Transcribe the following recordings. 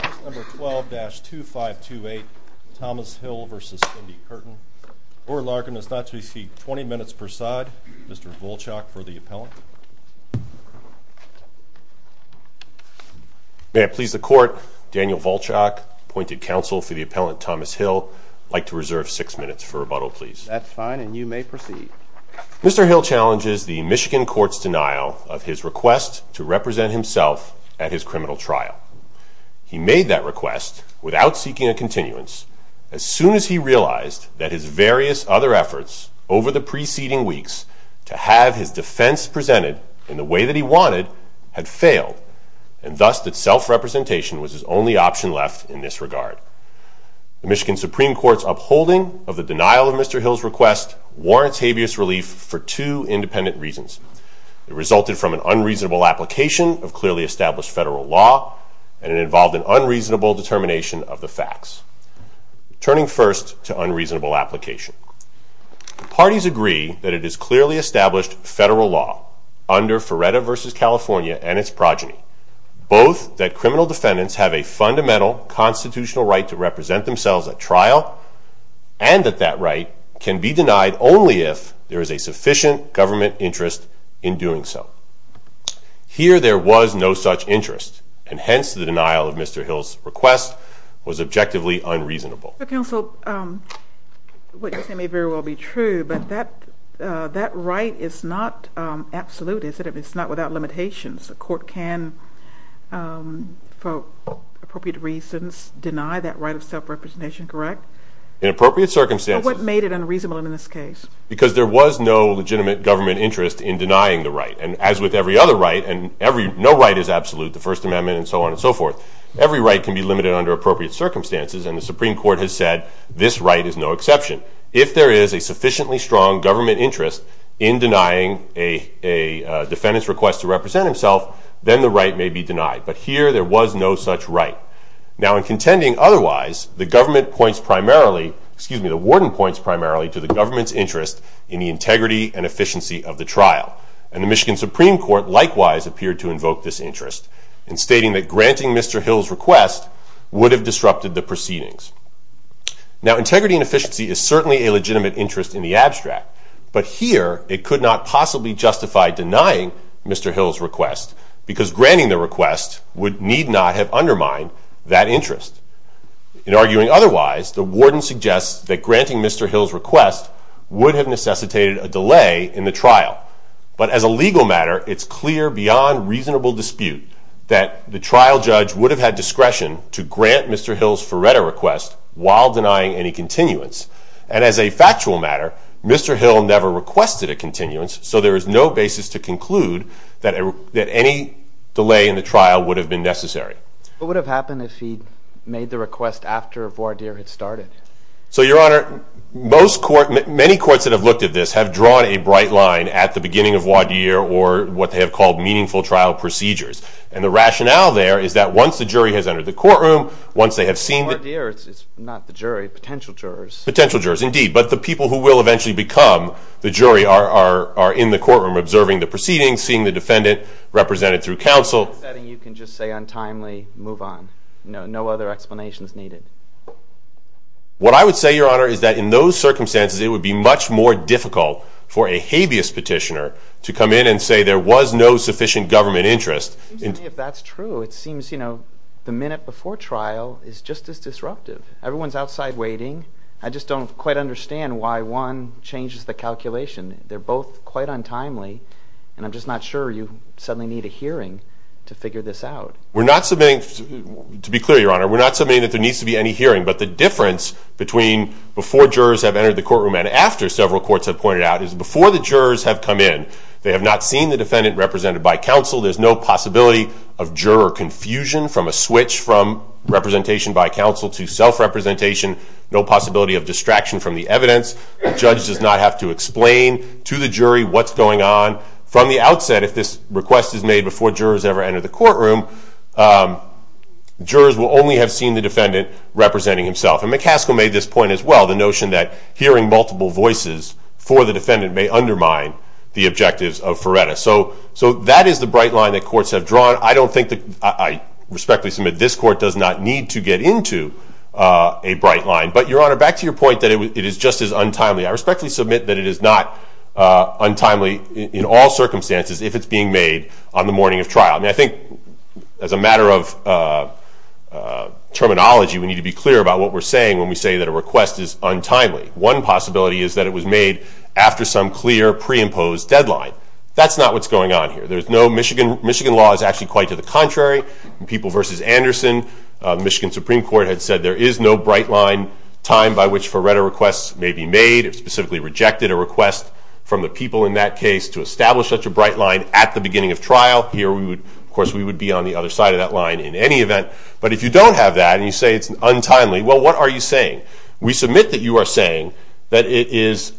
12-2528 Thomas Hill v. Cindi Curtin. Oral argument is not to be seen. 20 minutes per side. Mr. Volchok for the appellant. May it please the court, Daniel Volchok, appointed counsel for the appellant Thomas Hill, would like to reserve 6 minutes for rebuttal please. That's fine and you may proceed. Mr. Hill challenges the Michigan court's denial of his request to represent himself at his criminal trial. He made that request without seeking a continuance as soon as he realized that his various other efforts over the preceding weeks to have his defense presented in the way that he wanted had failed and thus that self-representation was his only option left in this regard. The Michigan Supreme Court's upholding of the denial of Mr. Hill's request warrants habeas relief for two independent reasons. It resulted from an unreasonable application of clearly established federal law and it involved an unreasonable determination of the facts. Turning first to unreasonable application. Parties agree that it is clearly established federal law under Feretta v. California and its progeny. Both that criminal defendants have a fundamental constitutional right to represent themselves at trial and that that right can be denied only if there is a sufficient government interest in doing so. Here there was no such interest and hence the denial of Mr. Hill's request was objectively unreasonable. Counsel, what you're saying may very well be true, but that right is not absolute, is it? It's not without limitations. A court can, for appropriate reasons, deny that right of self-representation, correct? In appropriate circumstances. What made it unreasonable in this case? Because there was no legitimate government interest in denying the right. And as with every other right, and no right is absolute, the First Amendment and so on and so forth, every right can be limited under appropriate circumstances and the Supreme Court has said this right is no exception. If there is a sufficiently strong government interest in denying a defendant's request to represent himself, then the right may be denied. But here there was no such right. Now in contending otherwise, the government points primarily, excuse me, the warden points primarily to the government's interest in the integrity and efficiency of the trial. And the Michigan Supreme Court likewise appeared to invoke this interest in stating that granting Mr. Hill's request would have disrupted the proceedings. Now integrity and efficiency is certainly a legitimate interest in the abstract. But here it could not possibly justify denying Mr. Hill's request because granting the request would need not have undermined that interest. In arguing otherwise, the warden suggests that granting Mr. Hill's request would have necessitated a delay in the trial. But as a legal matter, it's clear beyond reasonable dispute that the trial judge would have had discretion to grant Mr. Hill's Ferretta request while denying any continuance. And as a factual matter, Mr. Hill never requested a continuance, so there is no basis to conclude that any delay in the trial would have been necessary. What would have happened if he'd made the request after voir dire had started? So, Your Honor, many courts that have looked at this have drawn a bright line at the beginning of voir dire or what they have called meaningful trial procedures. And the rationale there is that once the jury has entered the courtroom, once they have seen the- Voir dire is not the jury, potential jurors. Potential jurors, indeed. But the people who will eventually become the jury are in the courtroom observing the proceedings, seeing the defendant represented through counsel. In that setting, you can just say untimely, move on. No other explanations needed. What I would say, Your Honor, is that in those circumstances, it would be much more difficult for a habeas petitioner to come in and say there was no sufficient government interest. If that's true, it seems, you know, the minute before trial is just as disruptive. Everyone's outside waiting. I just don't quite understand why one changes the calculation. They're both quite untimely, and I'm just not sure you suddenly need a hearing to figure this out. We're not submitting, to be clear, Your Honor, we're not submitting that there needs to be any hearing. But the difference between before jurors have entered the courtroom and after several courts have pointed out is before the jurors have come in, they have not seen the defendant represented by counsel. There's no possibility of juror confusion from a switch from representation by counsel to self-representation. No possibility of distraction from the evidence. The judge does not have to explain to the jury what's going on. From the outset, if this request is made before jurors ever enter the courtroom, jurors will only have seen the defendant representing himself. And McCaskill made this point as well, the notion that hearing multiple voices for the defendant may undermine the objectives of FRERETA. So that is the bright line that courts have drawn. I respectfully submit this court does not need to get into a bright line. But, Your Honor, back to your point that it is just as untimely. I respectfully submit that it is not untimely in all circumstances if it's being made on the morning of trial. I think as a matter of terminology, we need to be clear about what we're saying when we say that a request is untimely. One possibility is that it was made after some clear, pre-imposed deadline. That's not what's going on here. Michigan law is actually quite to the contrary. In People v. Anderson, Michigan Supreme Court had said there is no bright line time by which FRERETA requests may be made. It specifically rejected a request from the people in that case to establish such a bright line at the beginning of trial. Here, of course, we would be on the other side of that line in any event. But if you don't have that and you say it's untimely, well, what are you saying? We submit that you are saying that it is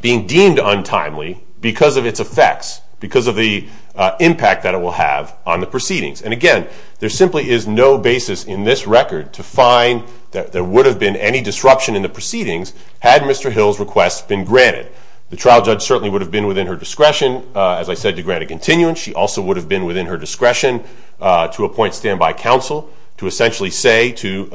being deemed untimely because of its effects, because of the impact that it will have on the proceedings. And, again, there simply is no basis in this record to find that there would have been any disruption in the proceedings had Mr. Hill's request been granted. The trial judge certainly would have been within her discretion, as I said, to grant a continuance. She also would have been within her discretion to appoint standby counsel to essentially say to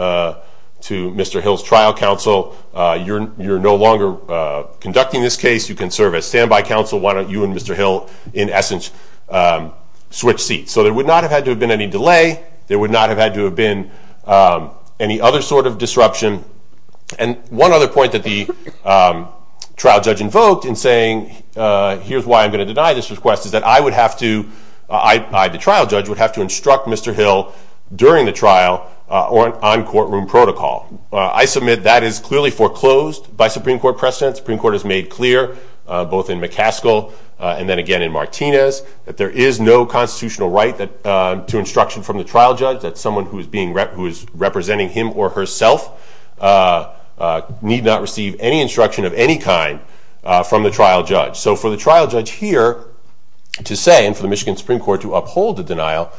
Mr. Hill's trial counsel, you're no longer conducting this case. You can serve as standby counsel. Why don't you and Mr. Hill, in essence, switch seats? So there would not have had to have been any delay. There would not have had to have been any other sort of disruption. And one other point that the trial judge invoked in saying, here's why I'm going to deny this request, is that I, the trial judge, would have to instruct Mr. Hill during the trial on courtroom protocol. I submit that is clearly foreclosed by Supreme Court precedent. Supreme Court has made clear, both in McCaskill and then again in Martinez, that there is no constitutional right to instruction from the trial judge. That someone who is representing him or herself need not receive any instruction of any kind from the trial judge. So for the trial judge here to say, and for the Michigan Supreme Court to uphold the denial,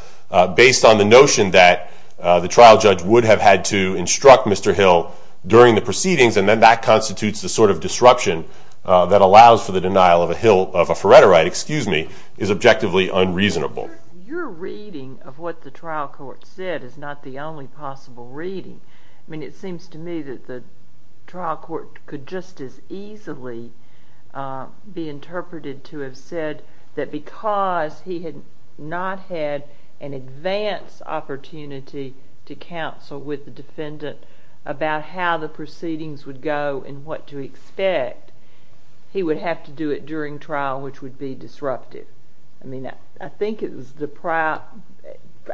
based on the notion that the trial judge would have had to instruct Mr. Hill during the proceedings, and then that constitutes the sort of disruption that allows for the denial of a Hill, of a Faretta right, excuse me, is objectively unreasonable. Your reading of what the trial court said is not the only possible reading. I mean, it seems to me that the trial court could just as easily be interpreted to have said that because he had not had an advance opportunity to counsel with the defendant about how the proceedings would go and what to expect, he would have to do it during trial, which would be disruptive. I mean, I think it was the prior,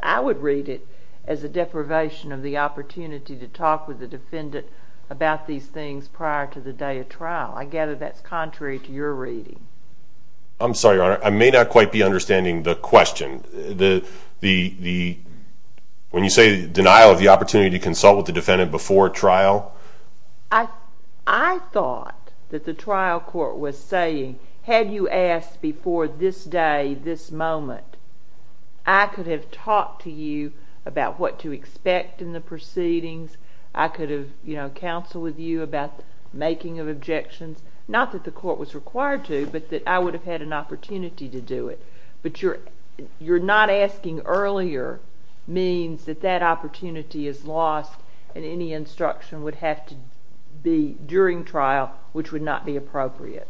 I would read it as a deprivation of the opportunity to talk with the defendant about these things prior to the day of trial. I gather that's contrary to your reading. I'm sorry, Your Honor. I may not quite be understanding the question. The, when you say denial of the opportunity to consult with the defendant before trial? I thought that the trial court was saying, had you asked before this day, this moment, I could have talked to you about what to expect in the proceedings. I could have, you know, counseled with you about making of objections. Not that the court was required to, but that I would have had an opportunity to do it. But your not asking earlier means that that opportunity is lost and any instruction would have to be during trial, which would not be appropriate.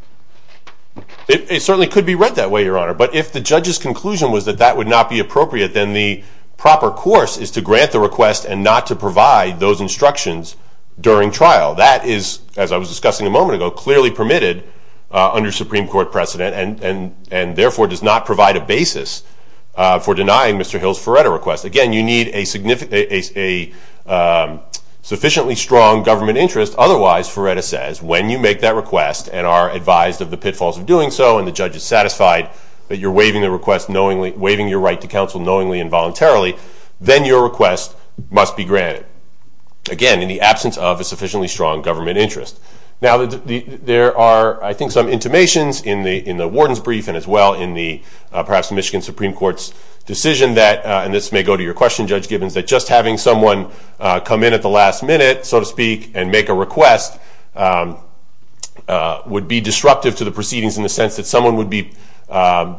It certainly could be read that way, Your Honor. But if the judge's conclusion was that that would not be appropriate, then the proper course is to grant the request and not to provide those instructions during trial. That is, as I was discussing a moment ago, clearly permitted under Supreme Court precedent and therefore does not provide a basis for denying Mr. Hill's Feretta request. Again, you need a sufficiently strong government interest. Otherwise, Feretta says, when you make that request and are advised of the pitfalls of doing so and the judge is satisfied that you're waiving your right to counsel knowingly and voluntarily, then your request must be granted. Again, in the absence of a sufficiently strong government interest. Now, there are, I think, some intimations in the warden's brief and as well in the perhaps Michigan Supreme Court's decision that, and this may go to your question, Judge Gibbons, that just having someone come in at the last minute, so to speak, and make a request would be disruptive to the proceedings in the sense that someone would be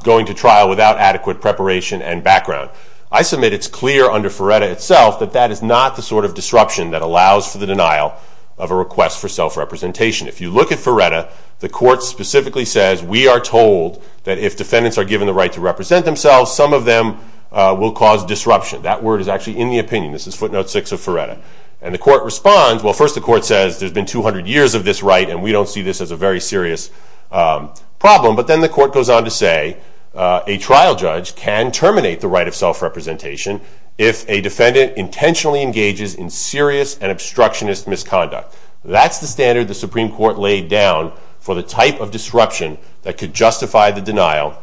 going to trial without adequate preparation and background. I submit it's clear under Feretta itself that that is not the sort of disruption that allows for the denial of a request for self-representation. If you look at Feretta, the court specifically says, we are told that if defendants are given the right to represent themselves, some of them will cause disruption. That word is actually in the opinion. This is footnote 6 of Feretta. And the court responds, well, first the court says, there's been 200 years of this right and we don't see this as a very serious problem. But then the court goes on to say, a trial judge can terminate the right of self-representation if a defendant intentionally engages in serious and obstructionist misconduct. That's the standard the Supreme Court laid down for the type of disruption that could justify the denial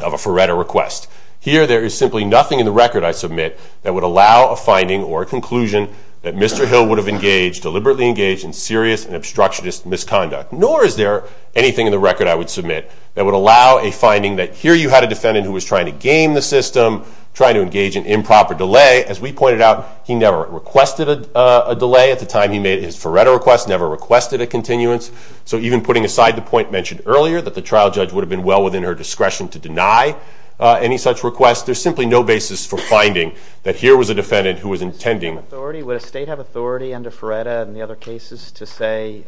of a Feretta request. Here there is simply nothing in the record I submit that would allow a finding or a conclusion that Mr. Hill would have engaged, deliberately engaged in serious and obstructionist misconduct. Nor is there anything in the record I would submit that would allow a finding that here you had a defendant who was trying to game the system, trying to engage in improper delay. As we pointed out, he never requested a delay. At the time he made his Feretta request, never requested a continuance. So even putting aside the point mentioned earlier, that the trial judge would have been well within her discretion to deny any such request, there's simply no basis for finding that here was a defendant who was intending... Would a state have authority under Feretta and the other cases to say,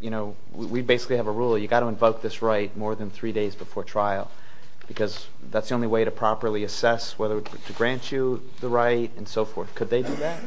you know, we basically have a rule, you've got to invoke this right more than three days before trial because that's the only way to properly assess whether to grant you the right and so forth. Could they do that?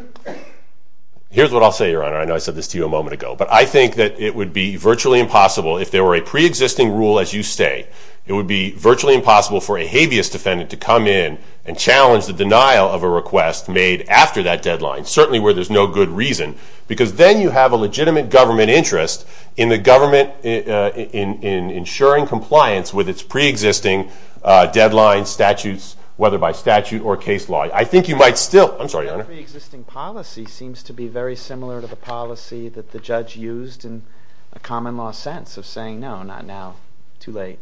Here's what I'll say, Your Honor. I know I said this to you a moment ago. But I think that it would be virtually impossible, if there were a preexisting rule as you say, it would be virtually impossible for a habeas defendant to come in and challenge the denial of a request made after that deadline, certainly where there's no good reason. Because then you have a legitimate government interest in the government in ensuring compliance with its preexisting deadline statutes, whether by statute or case law. I think you might still... I'm sorry, Your Honor. The preexisting policy seems to be very similar to the policy that the judge used in a common law sense of saying no, not now, too late.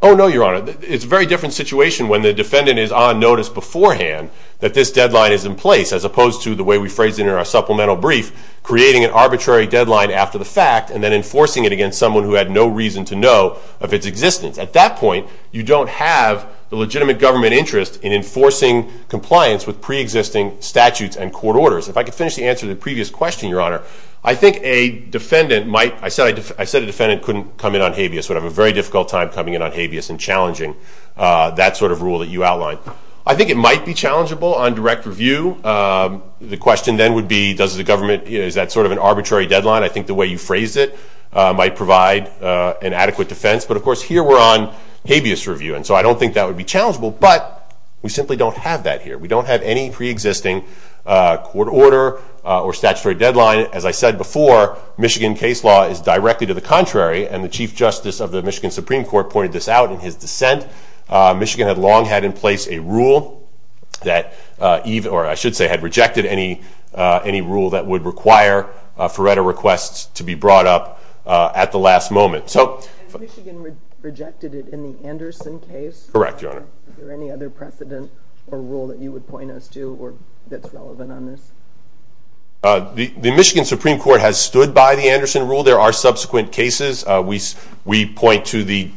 Oh, no, Your Honor. It's a very different situation when the defendant is on notice beforehand that this deadline is in place, as opposed to the way we phrased it in our supplemental brief, creating an arbitrary deadline after the fact and then enforcing it against someone who had no reason to know of its existence. At that point, you don't have the legitimate government interest in enforcing compliance with preexisting statutes and court orders. If I could finish the answer to the previous question, Your Honor, I think a defendant might... I said a defendant couldn't come in on habeas, would have a very difficult time coming in on habeas and challenging that sort of rule that you outlined. I think it might be challengeable on direct review. The question then would be, does the government... Is that sort of an arbitrary deadline? I think the way you phrased it might provide an adequate defense. But of course, here we're on habeas review, and so I don't think that would be challengeable. But we simply don't have that here. We don't have any preexisting court order or statutory deadline. As I said before, Michigan case law is directly to the contrary, and the Chief Justice of the Michigan Supreme Court pointed this out in his dissent. Michigan had long had in place a rule that... or I should say had rejected any rule that would require Faretta requests to be brought up at the last moment. So... Has Michigan rejected it in the Anderson case? Correct, Your Honor. Is there any other precedent or rule that you would point us to that's relevant on this? The Michigan Supreme Court has stood by the Anderson rule. There are subsequent cases. We point to the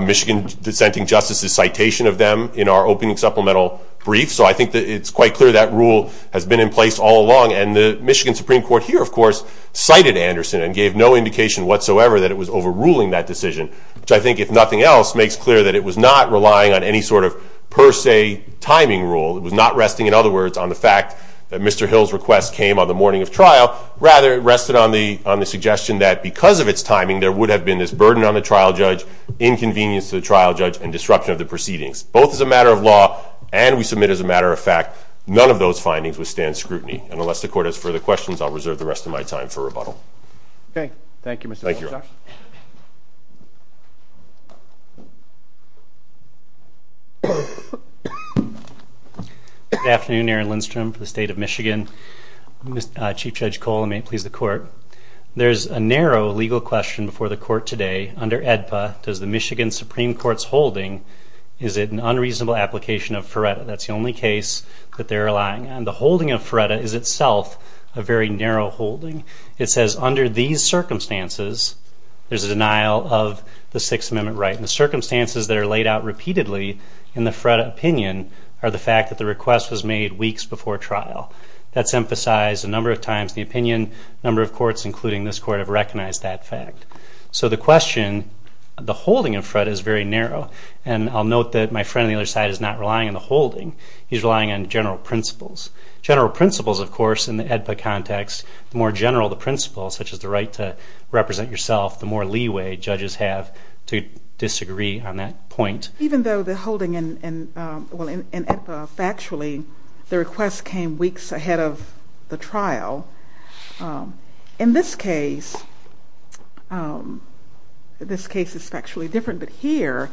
Michigan dissenting justices' citation of them in our opening supplemental brief, so I think it's quite clear that rule has been in place all along. And the Michigan Supreme Court here, of course, cited Anderson and gave no indication whatsoever that it was overruling that decision, which I think, if nothing else, makes clear that it was not relying on any sort of per se timing rule. It was not resting, in other words, on the fact that Mr. Hill's request came on the morning of trial. Rather, it rested on the suggestion that because of its timing, there would have been this burden on the trial judge, inconvenience to the trial judge, and disruption of the proceedings. Both as a matter of law, and we submit as a matter of fact, none of those findings withstand scrutiny. And unless the court has further questions, Okay. Thank you, Mr. Chief Justice. Thank you. Good afternoon. Aaron Lindstrom for the State of Michigan. Chief Judge Cole, and may it please the Court. There's a narrow legal question before the Court today. Under AEDPA, does the Michigan Supreme Court's holding, is it an unreasonable application of FRERTA? That's the only case that they're relying on. The holding of FRERTA is itself a very narrow holding. It says, under these circumstances, there's a denial of the Sixth Amendment right. And the circumstances that are laid out repeatedly in the FRERTA opinion are the fact that the request was made weeks before trial. That's emphasized a number of times in the opinion. A number of courts, including this court, have recognized that fact. So the question, the holding of FRERTA is very narrow. And I'll note that my friend on the other side is not relying on the holding. He's relying on general principles. General principles, of course, in the AEDPA context, the more general the principles, such as the right to represent yourself, the more leeway judges have to disagree on that point. Even though the holding, well, factually, the request came weeks ahead of the trial, in this case, this case is factually different. But here,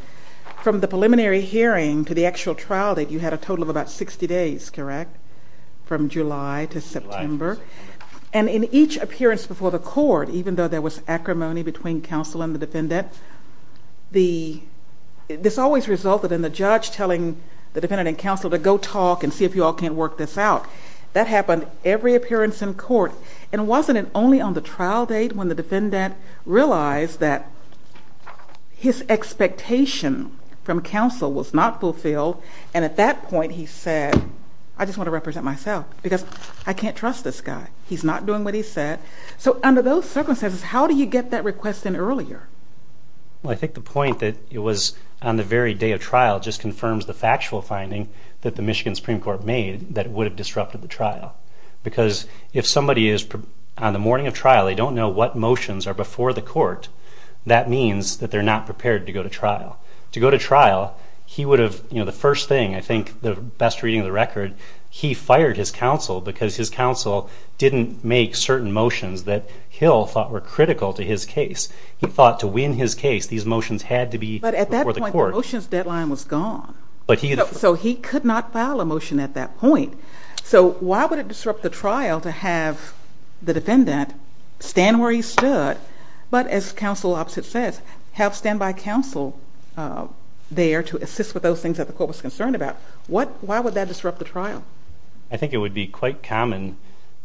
from the preliminary hearing to the actual trial, you had a total of about 60 days, correct? From July to September. And in each appearance before the court, even though there was acrimony between counsel and the defendant, this always resulted in the judge telling the defendant and counsel to go talk and see if you all can't work this out. That happened every appearance in court. And wasn't it only on the trial date when the defendant realized that his expectation from counsel was not fulfilled? And at that point he said, I just want to represent myself because I can't trust this guy. He's not doing what he said. So under those circumstances, how do you get that request in earlier? Well, I think the point that it was on the very day of trial just confirms the factual finding that the Michigan Supreme Court made that it would have disrupted the trial. Because if somebody is on the morning of trial, they don't know what motions are before the court, that means that they're not prepared to go to trial. He would have, you know, the first thing, I think the best reading of the record, he fired his counsel because his counsel didn't make certain motions that Hill thought were critical to his case. He thought to win his case these motions had to be before the court. But at that point the motions deadline was gone. So he could not file a motion at that point. So why would it disrupt the trial to have the defendant stand where he stood, but as counsel opposite says, have standby counsel there to assist with those things that the court was concerned about. Why would that disrupt the trial? I think it would be quite common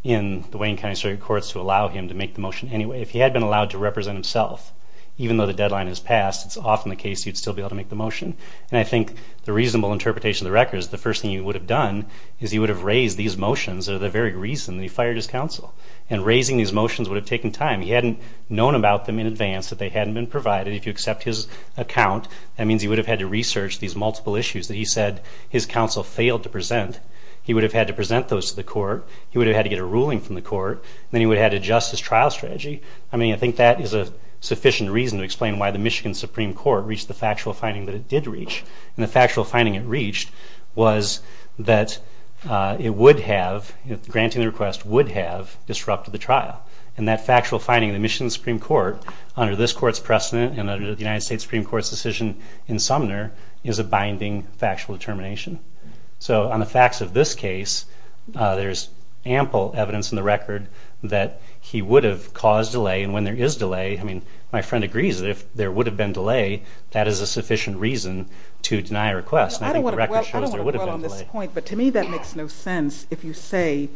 in the Wayne County District Courts to allow him to make the motion anyway. If he had been allowed to represent himself, even though the deadline has passed, it's often the case he'd still be able to make the motion. And I think the reasonable interpretation of the record is the first thing he would have done is he would have raised these motions that are the very reason that he fired his counsel. And raising these motions would have taken time. He hadn't known about them in advance, that they hadn't been provided. If you accept his account, that means he would have had to research these multiple issues that he said his counsel failed to present. He would have had to present those to the court. He would have had to get a ruling from the court. Then he would have had to adjust his trial strategy. I think that is a sufficient reason to explain why the Michigan Supreme Court reached the factual finding that it did reach. And the factual finding it reached was that it would have, granting the request, would have disrupted the trial. And that factual finding in the Michigan Supreme Court, under this court's precedent and under the United States Supreme Court's decision in Sumner, is a binding factual determination. So on the facts of this case, there's ample evidence in the record that he would have caused delay, and when there is delay, I mean, my friend agrees that if there would have been delay, that is a sufficient reason to deny a request. And I think the record shows there would have been delay. That's a good point, but to me that makes no sense if you say,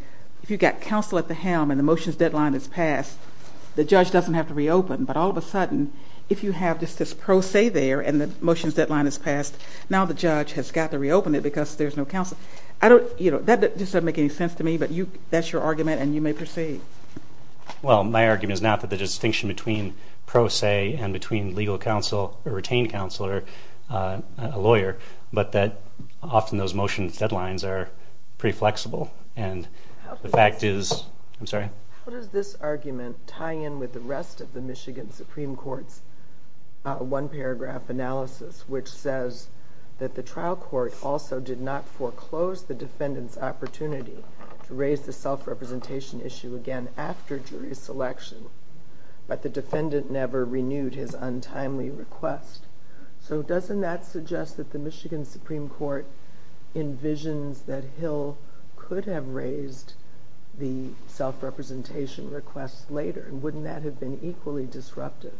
if you've got counsel at the helm and the motions deadline has passed, the judge doesn't have to reopen. But all of a sudden, if you have just this pro se there and the motions deadline has passed, now the judge has got to reopen it because there's no counsel. That doesn't make any sense to me, but that's your argument and you may proceed. Well, my argument is not that the distinction between pro se and between legal counsel or retained counsel or a lawyer, but that often those motions deadlines are pretty flexible, and the fact is, I'm sorry? How does this argument tie in with the rest of the Michigan Supreme Court's one paragraph analysis, which says that the trial court also did not foreclose the defendant's opportunity to raise the self-representation issue again after jury selection, but the defendant never renewed his untimely request. So doesn't that suggest that the Michigan Supreme Court envisions that Hill could have raised the self-representation request later, and wouldn't that have been equally disruptive?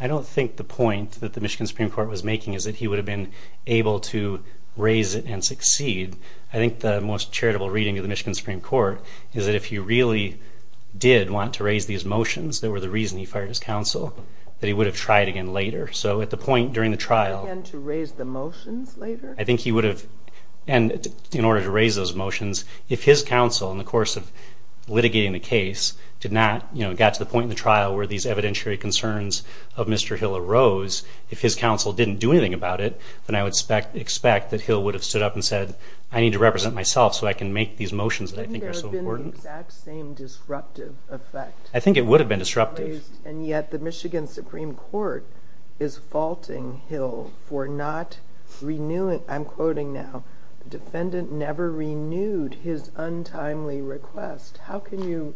I don't think the point that the Michigan Supreme Court was making is that he would have been able to raise it and succeed. I think the most charitable reading of the Michigan Supreme Court is that if he really did want to raise these motions that were the reason he fired his counsel, that he would have tried again later. So at the point during the trial... Again to raise the motions later? I think he would have, and in order to raise those motions, if his counsel in the course of litigating the case did not get to the point in the trial where these evidentiary concerns of Mr. Hill arose, if his counsel didn't do anything about it, then I would expect that Hill would have stood up and said, I need to represent myself so I can make these motions that I think are so important. Wouldn't there have been the exact same disruptive effect? I think it would have been disruptive. And yet the Michigan Supreme Court is faulting Hill for not renewing, I'm quoting now, the defendant never renewed his untimely request. How can you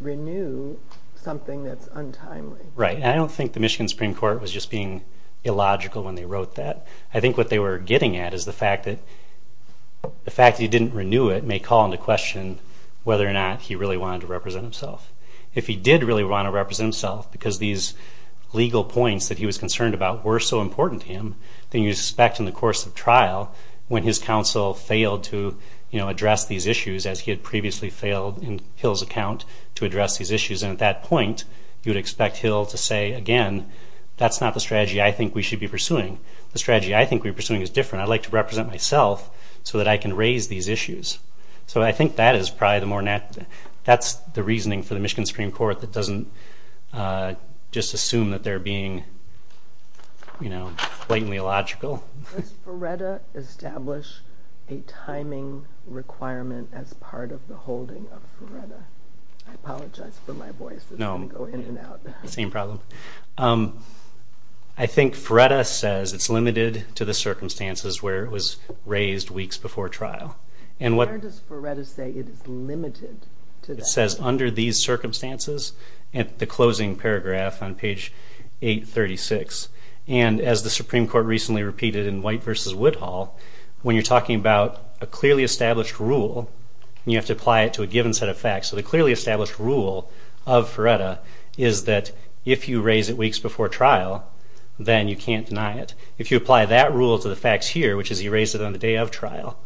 renew something that's untimely? Right, and I don't think the Michigan Supreme Court was just being illogical when they wrote that. I think what they were getting at is the fact that he didn't renew it may call into question whether or not he really wanted to represent himself. If he did really want to represent himself because these legal points that he was concerned about were so important to him, then you'd expect in the course of trial when his counsel failed to address these issues as he had previously failed in Hill's account to address these issues, and at that point you would expect Hill to say, again, that's not the strategy I think we should be pursuing. The strategy I think we're pursuing is different. I'd like to represent myself so that I can raise these issues. So I think that's the reasoning for the Michigan Supreme Court that doesn't just assume that they're being blatantly illogical. Does Ferretta establish a timing requirement as part of the holding of Ferretta? I apologize for my voice. No, same problem. I think Ferretta says it's limited to the circumstances where it was raised weeks before trial. Where does Ferretta say it is limited to that? It says under these circumstances at the closing paragraph on page 836. And as the Supreme Court recently repeated in White v. Woodhall, when you're talking about a clearly established rule, you have to apply it to a given set of facts. So the clearly established rule of Ferretta is that if you raise it weeks before trial, then you can't deny it. If you apply that rule to the facts here, which is he raised it on the day of trial,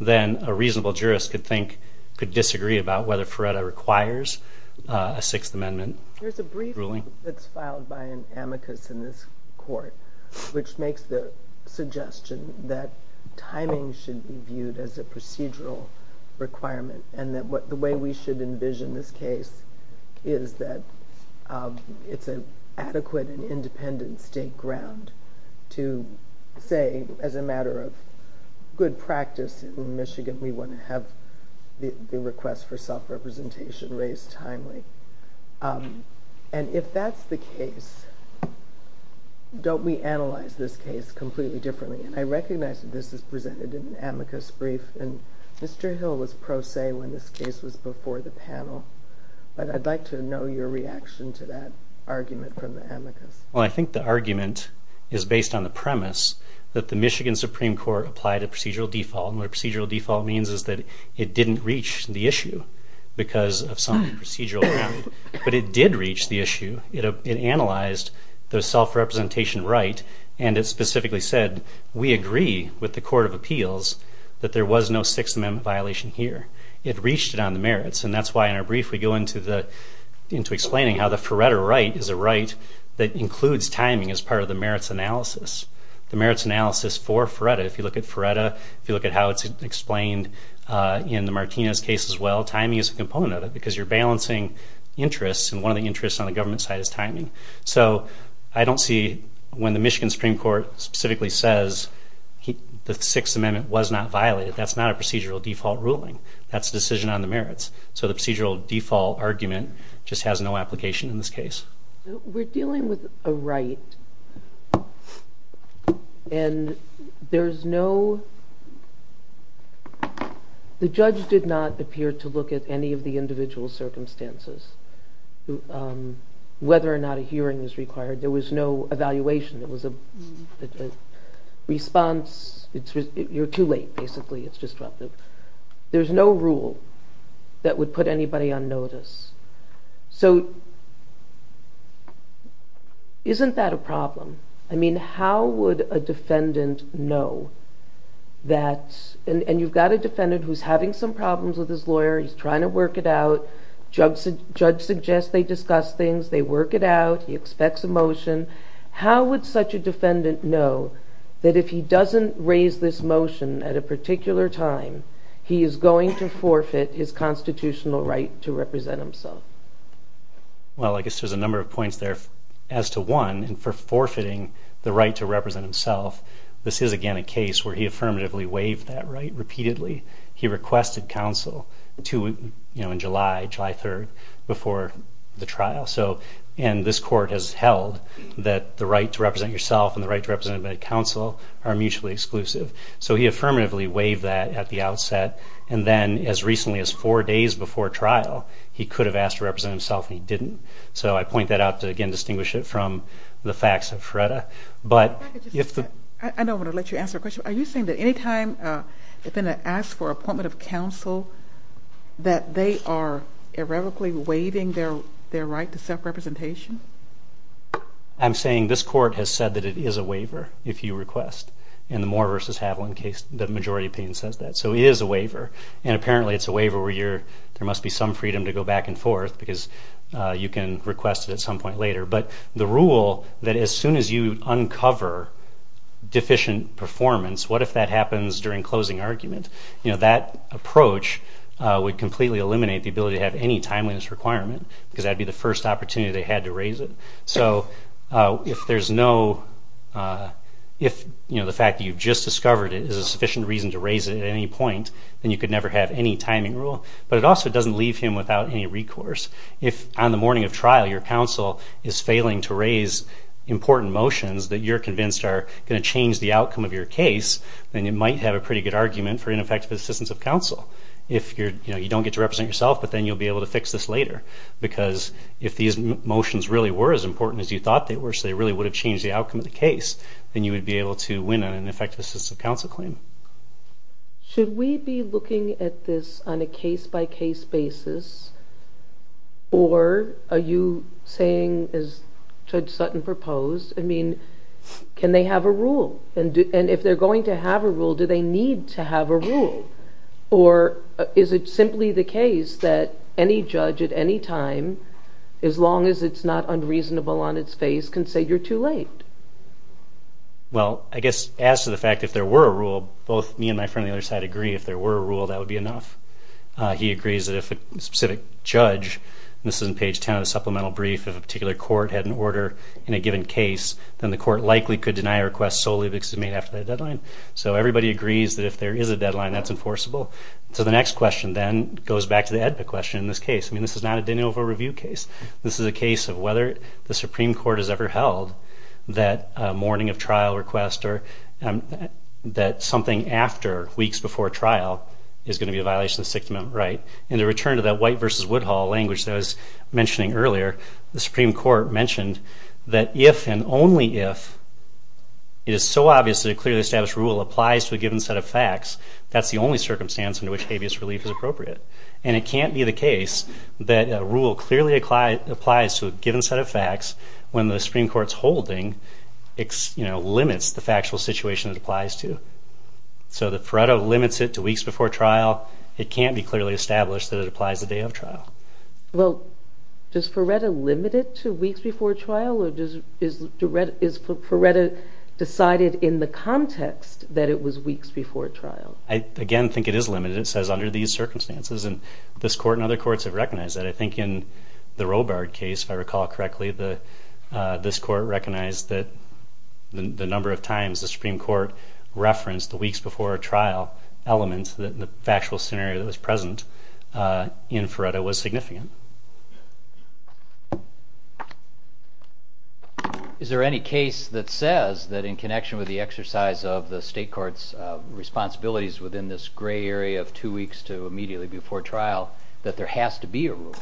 then a reasonable jurist could disagree about whether Ferretta requires a Sixth Amendment ruling. There's a brief that's filed by an amicus in this court, which makes the suggestion that timing should be viewed as a procedural requirement and that the way we should envision this case is that it's an adequate and independent state ground to say, as a matter of good practice in Michigan, we want to have the request for self-representation raised timely. And if that's the case, don't we analyze this case completely differently? And I recognize that this is presented in an amicus brief, and Mr. Hill was pro se when this case was before the panel, but I'd like to know your reaction to that argument from the amicus. Well, I think the argument is based on the premise that the Michigan Supreme Court applied a procedural default, and what a procedural default means is that it didn't reach the issue because of some procedural ground, but it did reach the issue. It analyzed the self-representation right, and it specifically said, we agree with the Court of Appeals that there was no Sixth Amendment violation here. It reached it on the merits, and that's why in our brief we go into explaining how the Feretta right is a right that includes timing as part of the merits analysis. The merits analysis for Feretta, if you look at Feretta, if you look at how it's explained in the Martinez case as well, timing is a component of it because you're balancing interests, and one of the interests on the government side is timing. So I don't see when the Michigan Supreme Court specifically says the Sixth Amendment was not violated, that's not a procedural default ruling. That's a decision on the merits. So the procedural default argument just has no application in this case. We're dealing with a right, and there's no... The judge did not appear to look at any of the individual circumstances, whether or not a hearing was required. There was no evaluation. There was a response. You're too late, basically. It's disruptive. There's no rule that would put anybody on notice. So isn't that a problem? I mean, how would a defendant know that... And you've got a defendant who's having some problems with his lawyer. He's trying to work it out. Judge suggests they discuss things. They work it out. He expects a motion. How would such a defendant know that if he doesn't raise this motion at a particular time, he is going to forfeit his constitutional right to represent himself? Well, I guess there's a number of points there as to, one, for forfeiting the right to represent himself. This is, again, a case where he affirmatively waived that right repeatedly. He requested counsel in July, July 3rd, before the trial. And this court has held that the right to represent yourself and the right to represent counsel are mutually exclusive. So he affirmatively waived that at the outset. And then as recently as four days before trial, he could have asked to represent himself, and he didn't. So I point that out to, again, distinguish it from the facts of FREDA. I don't want to let you answer a question, that they are irrevocably waiving their right to self-representation? I'm saying this court has said that it is a waiver if you request. In the Moore v. Haviland case, the majority opinion says that. So it is a waiver. And apparently it's a waiver where there must be some freedom to go back and forth because you can request it at some point later. But the rule that as soon as you uncover deficient performance, what if that happens during closing argument? That approach would completely eliminate the ability to have any timeliness requirement because that would be the first opportunity they had to raise it. So if there's no – if the fact that you've just discovered it is a sufficient reason to raise it at any point, then you could never have any timing rule. But it also doesn't leave him without any recourse. If on the morning of trial your counsel is failing to raise important motions that you're convinced are going to change the outcome of your case, then you might have a pretty good argument for ineffective assistance of counsel. You don't get to represent yourself, but then you'll be able to fix this later because if these motions really were as important as you thought they were so they really would have changed the outcome of the case, then you would be able to win an ineffective assistance of counsel claim. Should we be looking at this on a case-by-case basis? Or are you saying, as Judge Sutton proposed, can they have a rule? And if they're going to have a rule, do they need to have a rule? Or is it simply the case that any judge at any time, as long as it's not unreasonable on its face, can say you're too late? Well, I guess as to the fact if there were a rule, both me and my friend on the other side agree if there were a rule that would be enough. He agrees that if a specific judge, and this is on page 10 of the supplemental brief, if a particular court had an order in a given case, then the court likely could deny a request solely because it was made after that deadline. So everybody agrees that if there is a deadline, that's enforceable. So the next question then goes back to the AEDPA question in this case. I mean, this is not a de novo review case. This is a case of whether the Supreme Court has ever held that a morning of trial request or that something after weeks before trial is going to be a violation of the Sixth Amendment right. And to return to that White v. Woodhull language that I was mentioning earlier, the Supreme Court mentioned that if and only if it is so obvious that a clearly established rule applies to a given set of facts, that's the only circumstance under which habeas relief is appropriate. And it can't be the case that a rule clearly applies to a given set of facts when the Supreme Court's holding limits the factual situation it applies to. So that Faretto limits it to weeks before trial, Well, does Faretto limit it to weeks before trial or is Faretto decided in the context that it was weeks before trial? I again think it is limited. It says under these circumstances and this court and other courts have recognized that. I think in the Robart case, if I recall correctly, this court recognized that the number of times the Supreme Court referenced the weeks before trial element in the factual scenario that was present in Faretto was significant. Is there any case that says that in connection with the exercise of the state court's responsibilities within this gray area of two weeks to immediately before trial that there has to be a rule?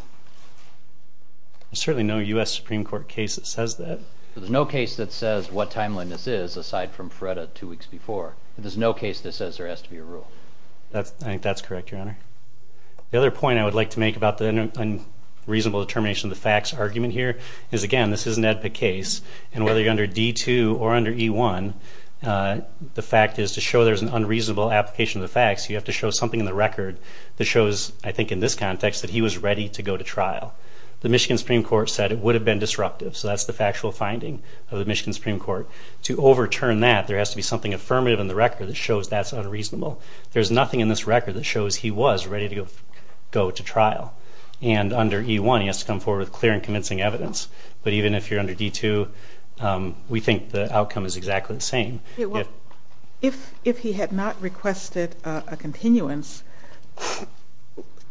There's certainly no U.S. Supreme Court case that says that. There's no case that says what timeline this is aside from Faretto two weeks before. There's no case that says there has to be a rule. I think that's correct, Your Honor. The other point I would like to make about the unreasonable determination of the facts argument here is, again, this is an EDPA case, and whether you're under D2 or under E1, the fact is to show there's an unreasonable application of the facts, you have to show something in the record that shows, I think in this context, that he was ready to go to trial. The Michigan Supreme Court said it would have been disruptive, so that's the factual finding of the Michigan Supreme Court. To overturn that, there has to be something affirmative in the record that shows that's unreasonable. There's nothing in this record that shows he was ready to go to trial. And under E1, he has to come forward with clear and convincing evidence. But even if you're under D2, we think the outcome is exactly the same. If he had not requested a continuance,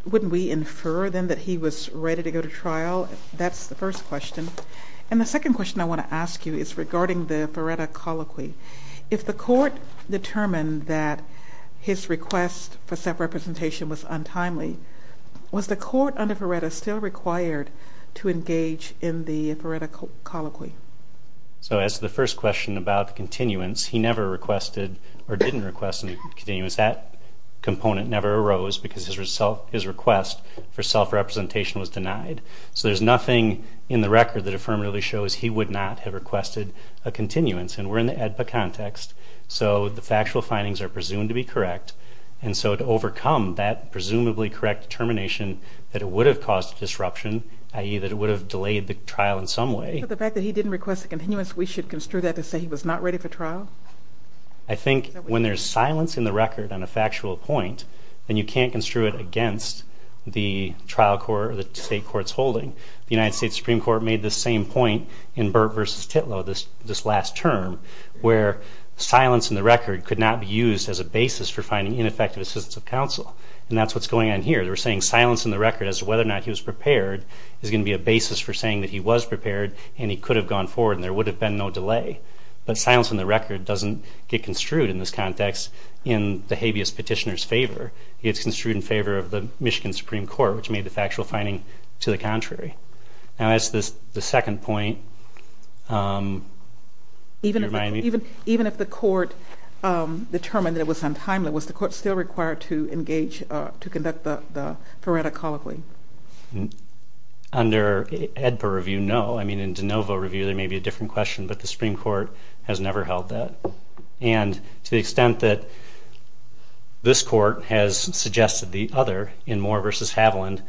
wouldn't we infer then that he was ready to go to trial? That's the first question. And the second question I want to ask you is regarding the Feretta colloquy. If the court determined that his request for self-representation was untimely, was the court under Feretta still required to engage in the Feretta colloquy? So as to the first question about continuance, he never requested or didn't request a continuance. That component never arose because his request for self-representation was denied. So there's nothing in the record that affirmatively shows he would not have requested a continuance. And we're in the AEDPA context, so the factual findings are presumed to be correct. And so to overcome that presumably correct determination that it would have caused disruption, i.e., that it would have delayed the trial in some way. So the fact that he didn't request a continuance, we should construe that to say he was not ready for trial? I think when there's silence in the record on a factual point, then you can't construe it against the trial court or the state court's holding. The United States Supreme Court made this same point in Burt v. Titlow, this last term, where silence in the record could not be used as a basis for finding ineffective assistance of counsel. And that's what's going on here. They're saying silence in the record as to whether or not he was prepared is going to be a basis for saying that he was prepared and he could have gone forward and there would have been no delay. But silence in the record doesn't get construed in this context in the habeas petitioner's favor. It gets construed in favor of the Michigan Supreme Court, which made the factual finding to the contrary. Now, as to the second point, you remind me? Even if the court determined that it was untimely, was the court still required to engage to conduct the phoretic colloquy? Under AEDPA review, no. I mean, in de novo review, there may be a different question, but the Supreme Court has never held that. And to the extent that this court has suggested the other in Moore v. Haviland,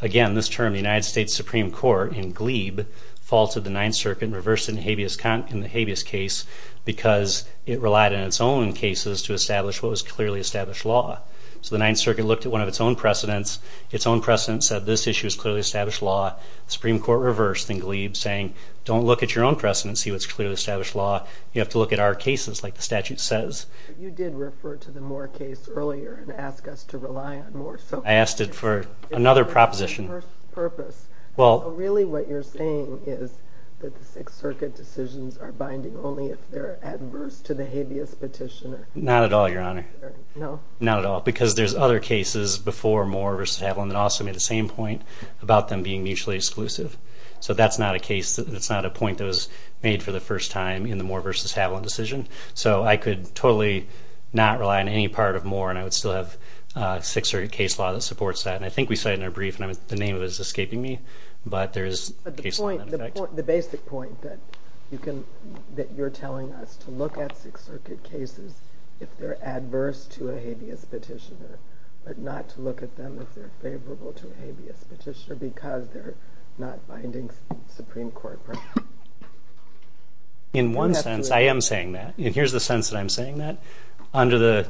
again, this term, the United States Supreme Court, in Gleeb, faulted the Ninth Circuit and reversed it in the habeas case because it relied on its own cases to establish what was clearly established law. So the Ninth Circuit looked at one of its own precedents. Its own precedent said this issue is clearly established law. The Supreme Court reversed in Gleeb, saying don't look at your own precedent and see what's clearly established law. You have to look at our cases, like the statute says. You did refer to the Moore case earlier and ask us to rely on Moore. I asked it for another proposition. It was for a different purpose. Really what you're saying is that the Sixth Circuit decisions are binding only if they're adverse to the habeas petitioner. Not at all, Your Honor. Not at all, because there's other cases before Moore v. Haviland that also made the same point about them being mutually exclusive. So that's not a case, that's not a point that was made for the first time in the Moore v. Haviland decision. So I could totally not rely on any part of Moore, and I would still have Sixth Circuit case law that supports that. And I think we cited it in our brief, and the name of it is escaping me. But there is case law in effect. But the point, the basic point that you can, that you're telling us to look at Sixth Circuit cases if they're adverse to a habeas petitioner, but not to look at them if they're favorable to a habeas petitioner, because they're not binding Supreme Court. In one sense, I am saying that. And here's the sense that I'm saying that. Under the,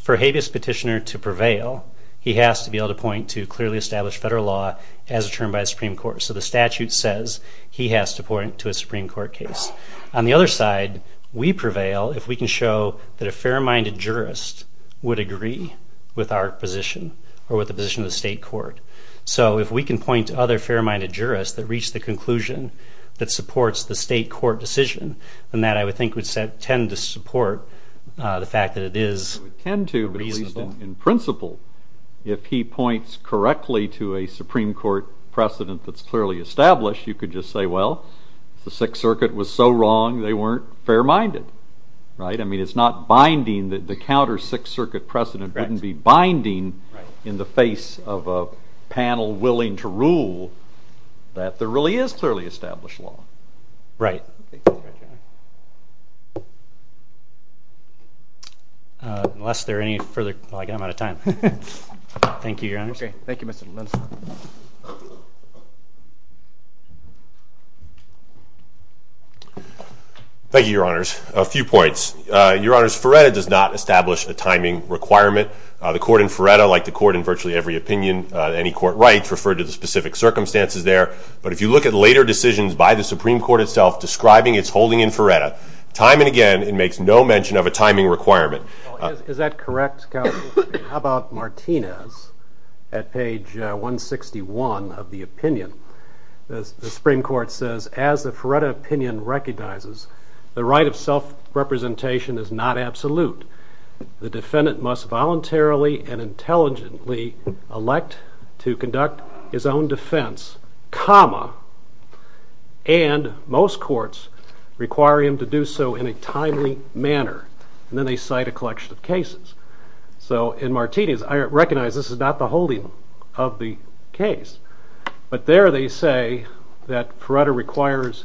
for a habeas petitioner to prevail, he has to be able to point to clearly established federal law as determined by the Supreme Court. So the statute says he has to point to a Supreme Court case. On the other side, we prevail if we can show that a fair-minded jurist would agree with our position, or with the position of the state court. So if we can point to other fair-minded jurists that reach the conclusion that supports the state court decision, then that I would think would tend to support the fact that it is reasonable. It would tend to, but at least in principle, if he points correctly to a Supreme Court precedent that's clearly established, you could just say, well, if the Sixth Circuit was so wrong, they weren't fair-minded. Right? I mean, it's not binding. The counter Sixth Circuit precedent wouldn't be binding in the face of a panel willing to rule that there really is clearly established law. Right. Unless there are any further, well, I guess I'm out of time. Thank you, Your Honors. Okay. Thank you, Mr. Lins. Thank you, Your Honors. A few points. Your Honors, Feretta does not establish a timing requirement. The court in Feretta, like the court in virtually every opinion, any court rights, refer to the specific circumstances there. But if you look at later decisions by the Supreme Court itself describing its holding in Feretta, time and again it makes no mention of a timing requirement. Is that correct, Counsel? How about Martinez at page 161 of the opinion? The Supreme Court says, as the Feretta opinion recognizes, the right of self-representation is not absolute. The defendant must voluntarily and intelligently elect to conduct his own defense, comma, and most courts require him to do so in a timely manner. And then they cite a collection of cases. So in Martinez, I recognize this is not the holding of the case. But there they say that Feretta requires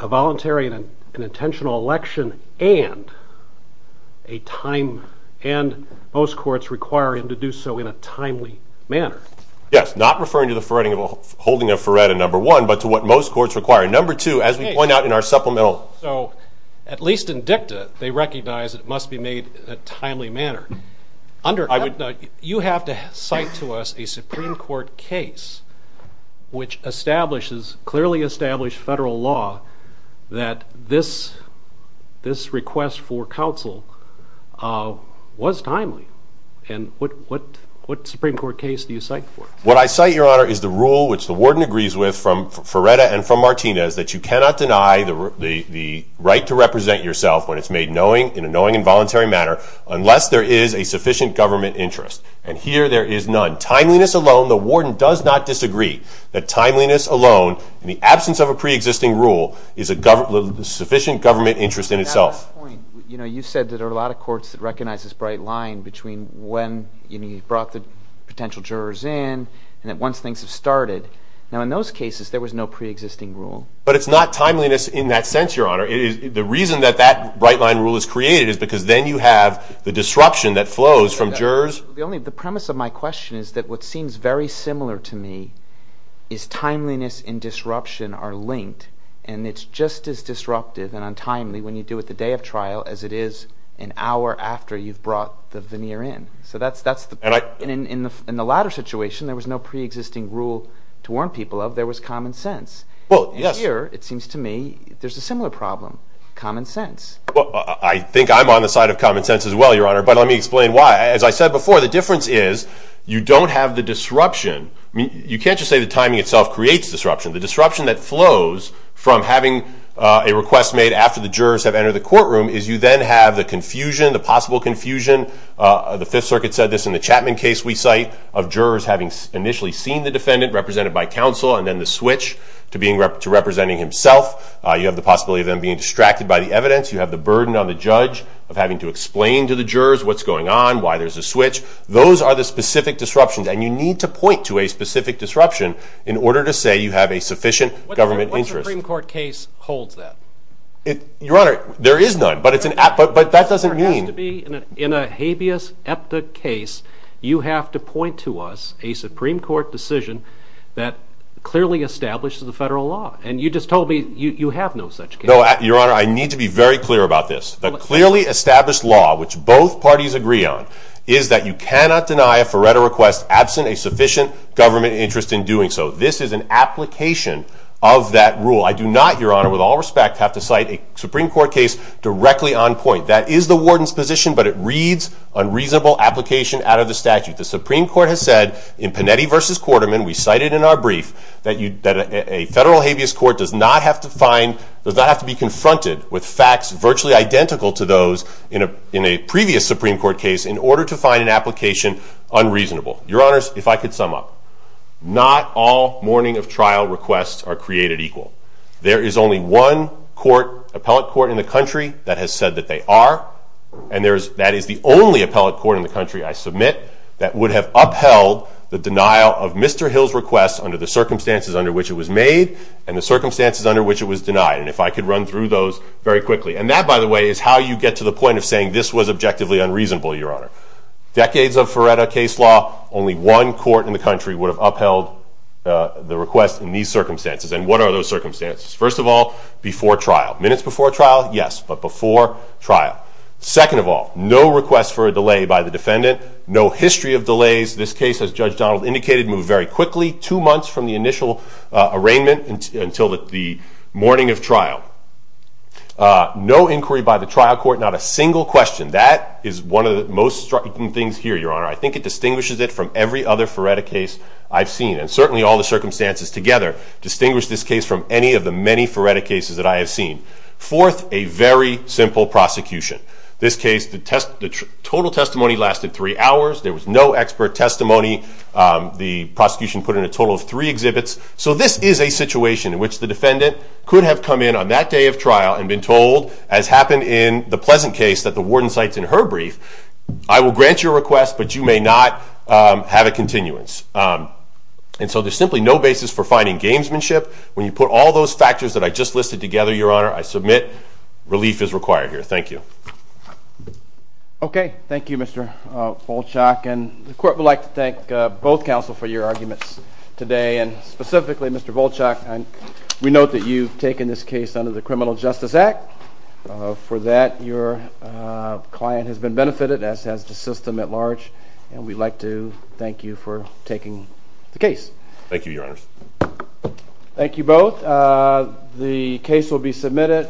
a voluntary and intentional election and most courts require him to do so in a timely manner. Yes, not referring to the holding of Feretta, number one, but to what most courts require. Number two, as we point out in our supplemental. At least in dicta, they recognize it must be made in a timely manner. You have to cite to us a Supreme Court case which clearly established federal law that this request for counsel was timely. And what Supreme Court case do you cite for us? What I cite, Your Honor, is the rule which the warden agrees with from Feretta and from Martinez that you cannot deny the right to represent yourself when it's made in a knowing and voluntary manner unless there is a sufficient government interest. And here there is none. Timeliness alone, the warden does not disagree that timeliness alone, in the absence of a preexisting rule, is a sufficient government interest in itself. At that point, you said that there are a lot of courts that recognize this bright line between when he brought the potential jurors in and that once things have started. Now, in those cases, there was no preexisting rule. But it's not timeliness in that sense, Your Honor. The reason that that bright line rule is created is because then you have the disruption that flows from jurors. The premise of my question is that what seems very similar to me is timeliness and disruption are linked, and it's just as disruptive and untimely when you do it the day of trial as it is an hour after you've brought the veneer in. In the latter situation, there was no preexisting rule to warn people of. There was common sense. And here, it seems to me, there's a similar problem, common sense. Well, I think I'm on the side of common sense as well, Your Honor, but let me explain why. As I said before, the difference is you don't have the disruption. You can't just say the timing itself creates disruption. The disruption that flows from having a request made after the jurors have entered the courtroom is you then have the confusion, the possible confusion, the Fifth Circuit said this in the Chapman case we cite, of jurors having initially seen the defendant, represented by counsel, and then the switch to representing himself. You have the possibility of them being distracted by the evidence. You have the burden on the judge of having to explain to the jurors what's going on, why there's a switch. Those are the specific disruptions, and you need to point to a specific disruption in order to say you have a sufficient government interest. What Supreme Court case holds that? Your Honor, there is none, but that doesn't mean... In a habeas epta case, you have to point to us a Supreme Court decision that clearly establishes the federal law, and you just told me you have no such case. No, Your Honor, I need to be very clear about this. The clearly established law, which both parties agree on, is that you cannot deny a Faretto request absent a sufficient government interest in doing so. This is an application of that rule. I do not, Your Honor, with all respect, have to cite a Supreme Court case directly on point. That is the warden's position, but it reads unreasonable application out of the statute. The Supreme Court has said in Panetti v. Quarterman, we cited in our brief, that a federal habeas court does not have to be confronted with facts virtually identical to those in a previous Supreme Court case in order to find an application unreasonable. Your Honors, if I could sum up. Not all morning of trial requests are created equal. There is only one appellate court in the country that has said that they are, and that is the only appellate court in the country, I submit, that would have upheld the denial of Mr. Hill's request under the circumstances under which it was made and the circumstances under which it was denied. And if I could run through those very quickly. And that, by the way, is how you get to the point of saying this was objectively unreasonable, Your Honor. Decades of Faretto case law, only one court in the country would have upheld the request in these circumstances. And what are those circumstances? First of all, before trial. Minutes before trial, yes. But before trial. Second of all, no request for a delay by the defendant. No history of delays. This case, as Judge Donald indicated, moved very quickly. Two months from the initial arraignment until the morning of trial. No inquiry by the trial court. Not a single question. That is one of the most striking things here, Your Honor. I think it distinguishes it from every other Faretto case I've seen. And certainly all the circumstances together distinguish this case from any of the many Faretto cases that I have seen. Fourth, a very simple prosecution. This case, the total testimony lasted three hours. There was no expert testimony. The prosecution put in a total of three exhibits. So this is a situation in which the defendant could have come in on that day of trial and been told, as happened in the Pleasant case that the warden cites in her brief, I will grant your request, but you may not have a continuance. And so there's simply no basis for finding gamesmanship. When you put all those factors that I just listed together, Your Honor, I submit relief is required here. Thank you. Okay. Thank you, Mr. Volchak. And the court would like to thank both counsel for your arguments today. And specifically, Mr. Volchak, we note that you've taken this case under the Criminal Justice Act. For that, your client has been benefited, as has the system at large. And we'd like to thank you for taking the case. Thank you, Your Honors. Thank you both. The case will be submitted.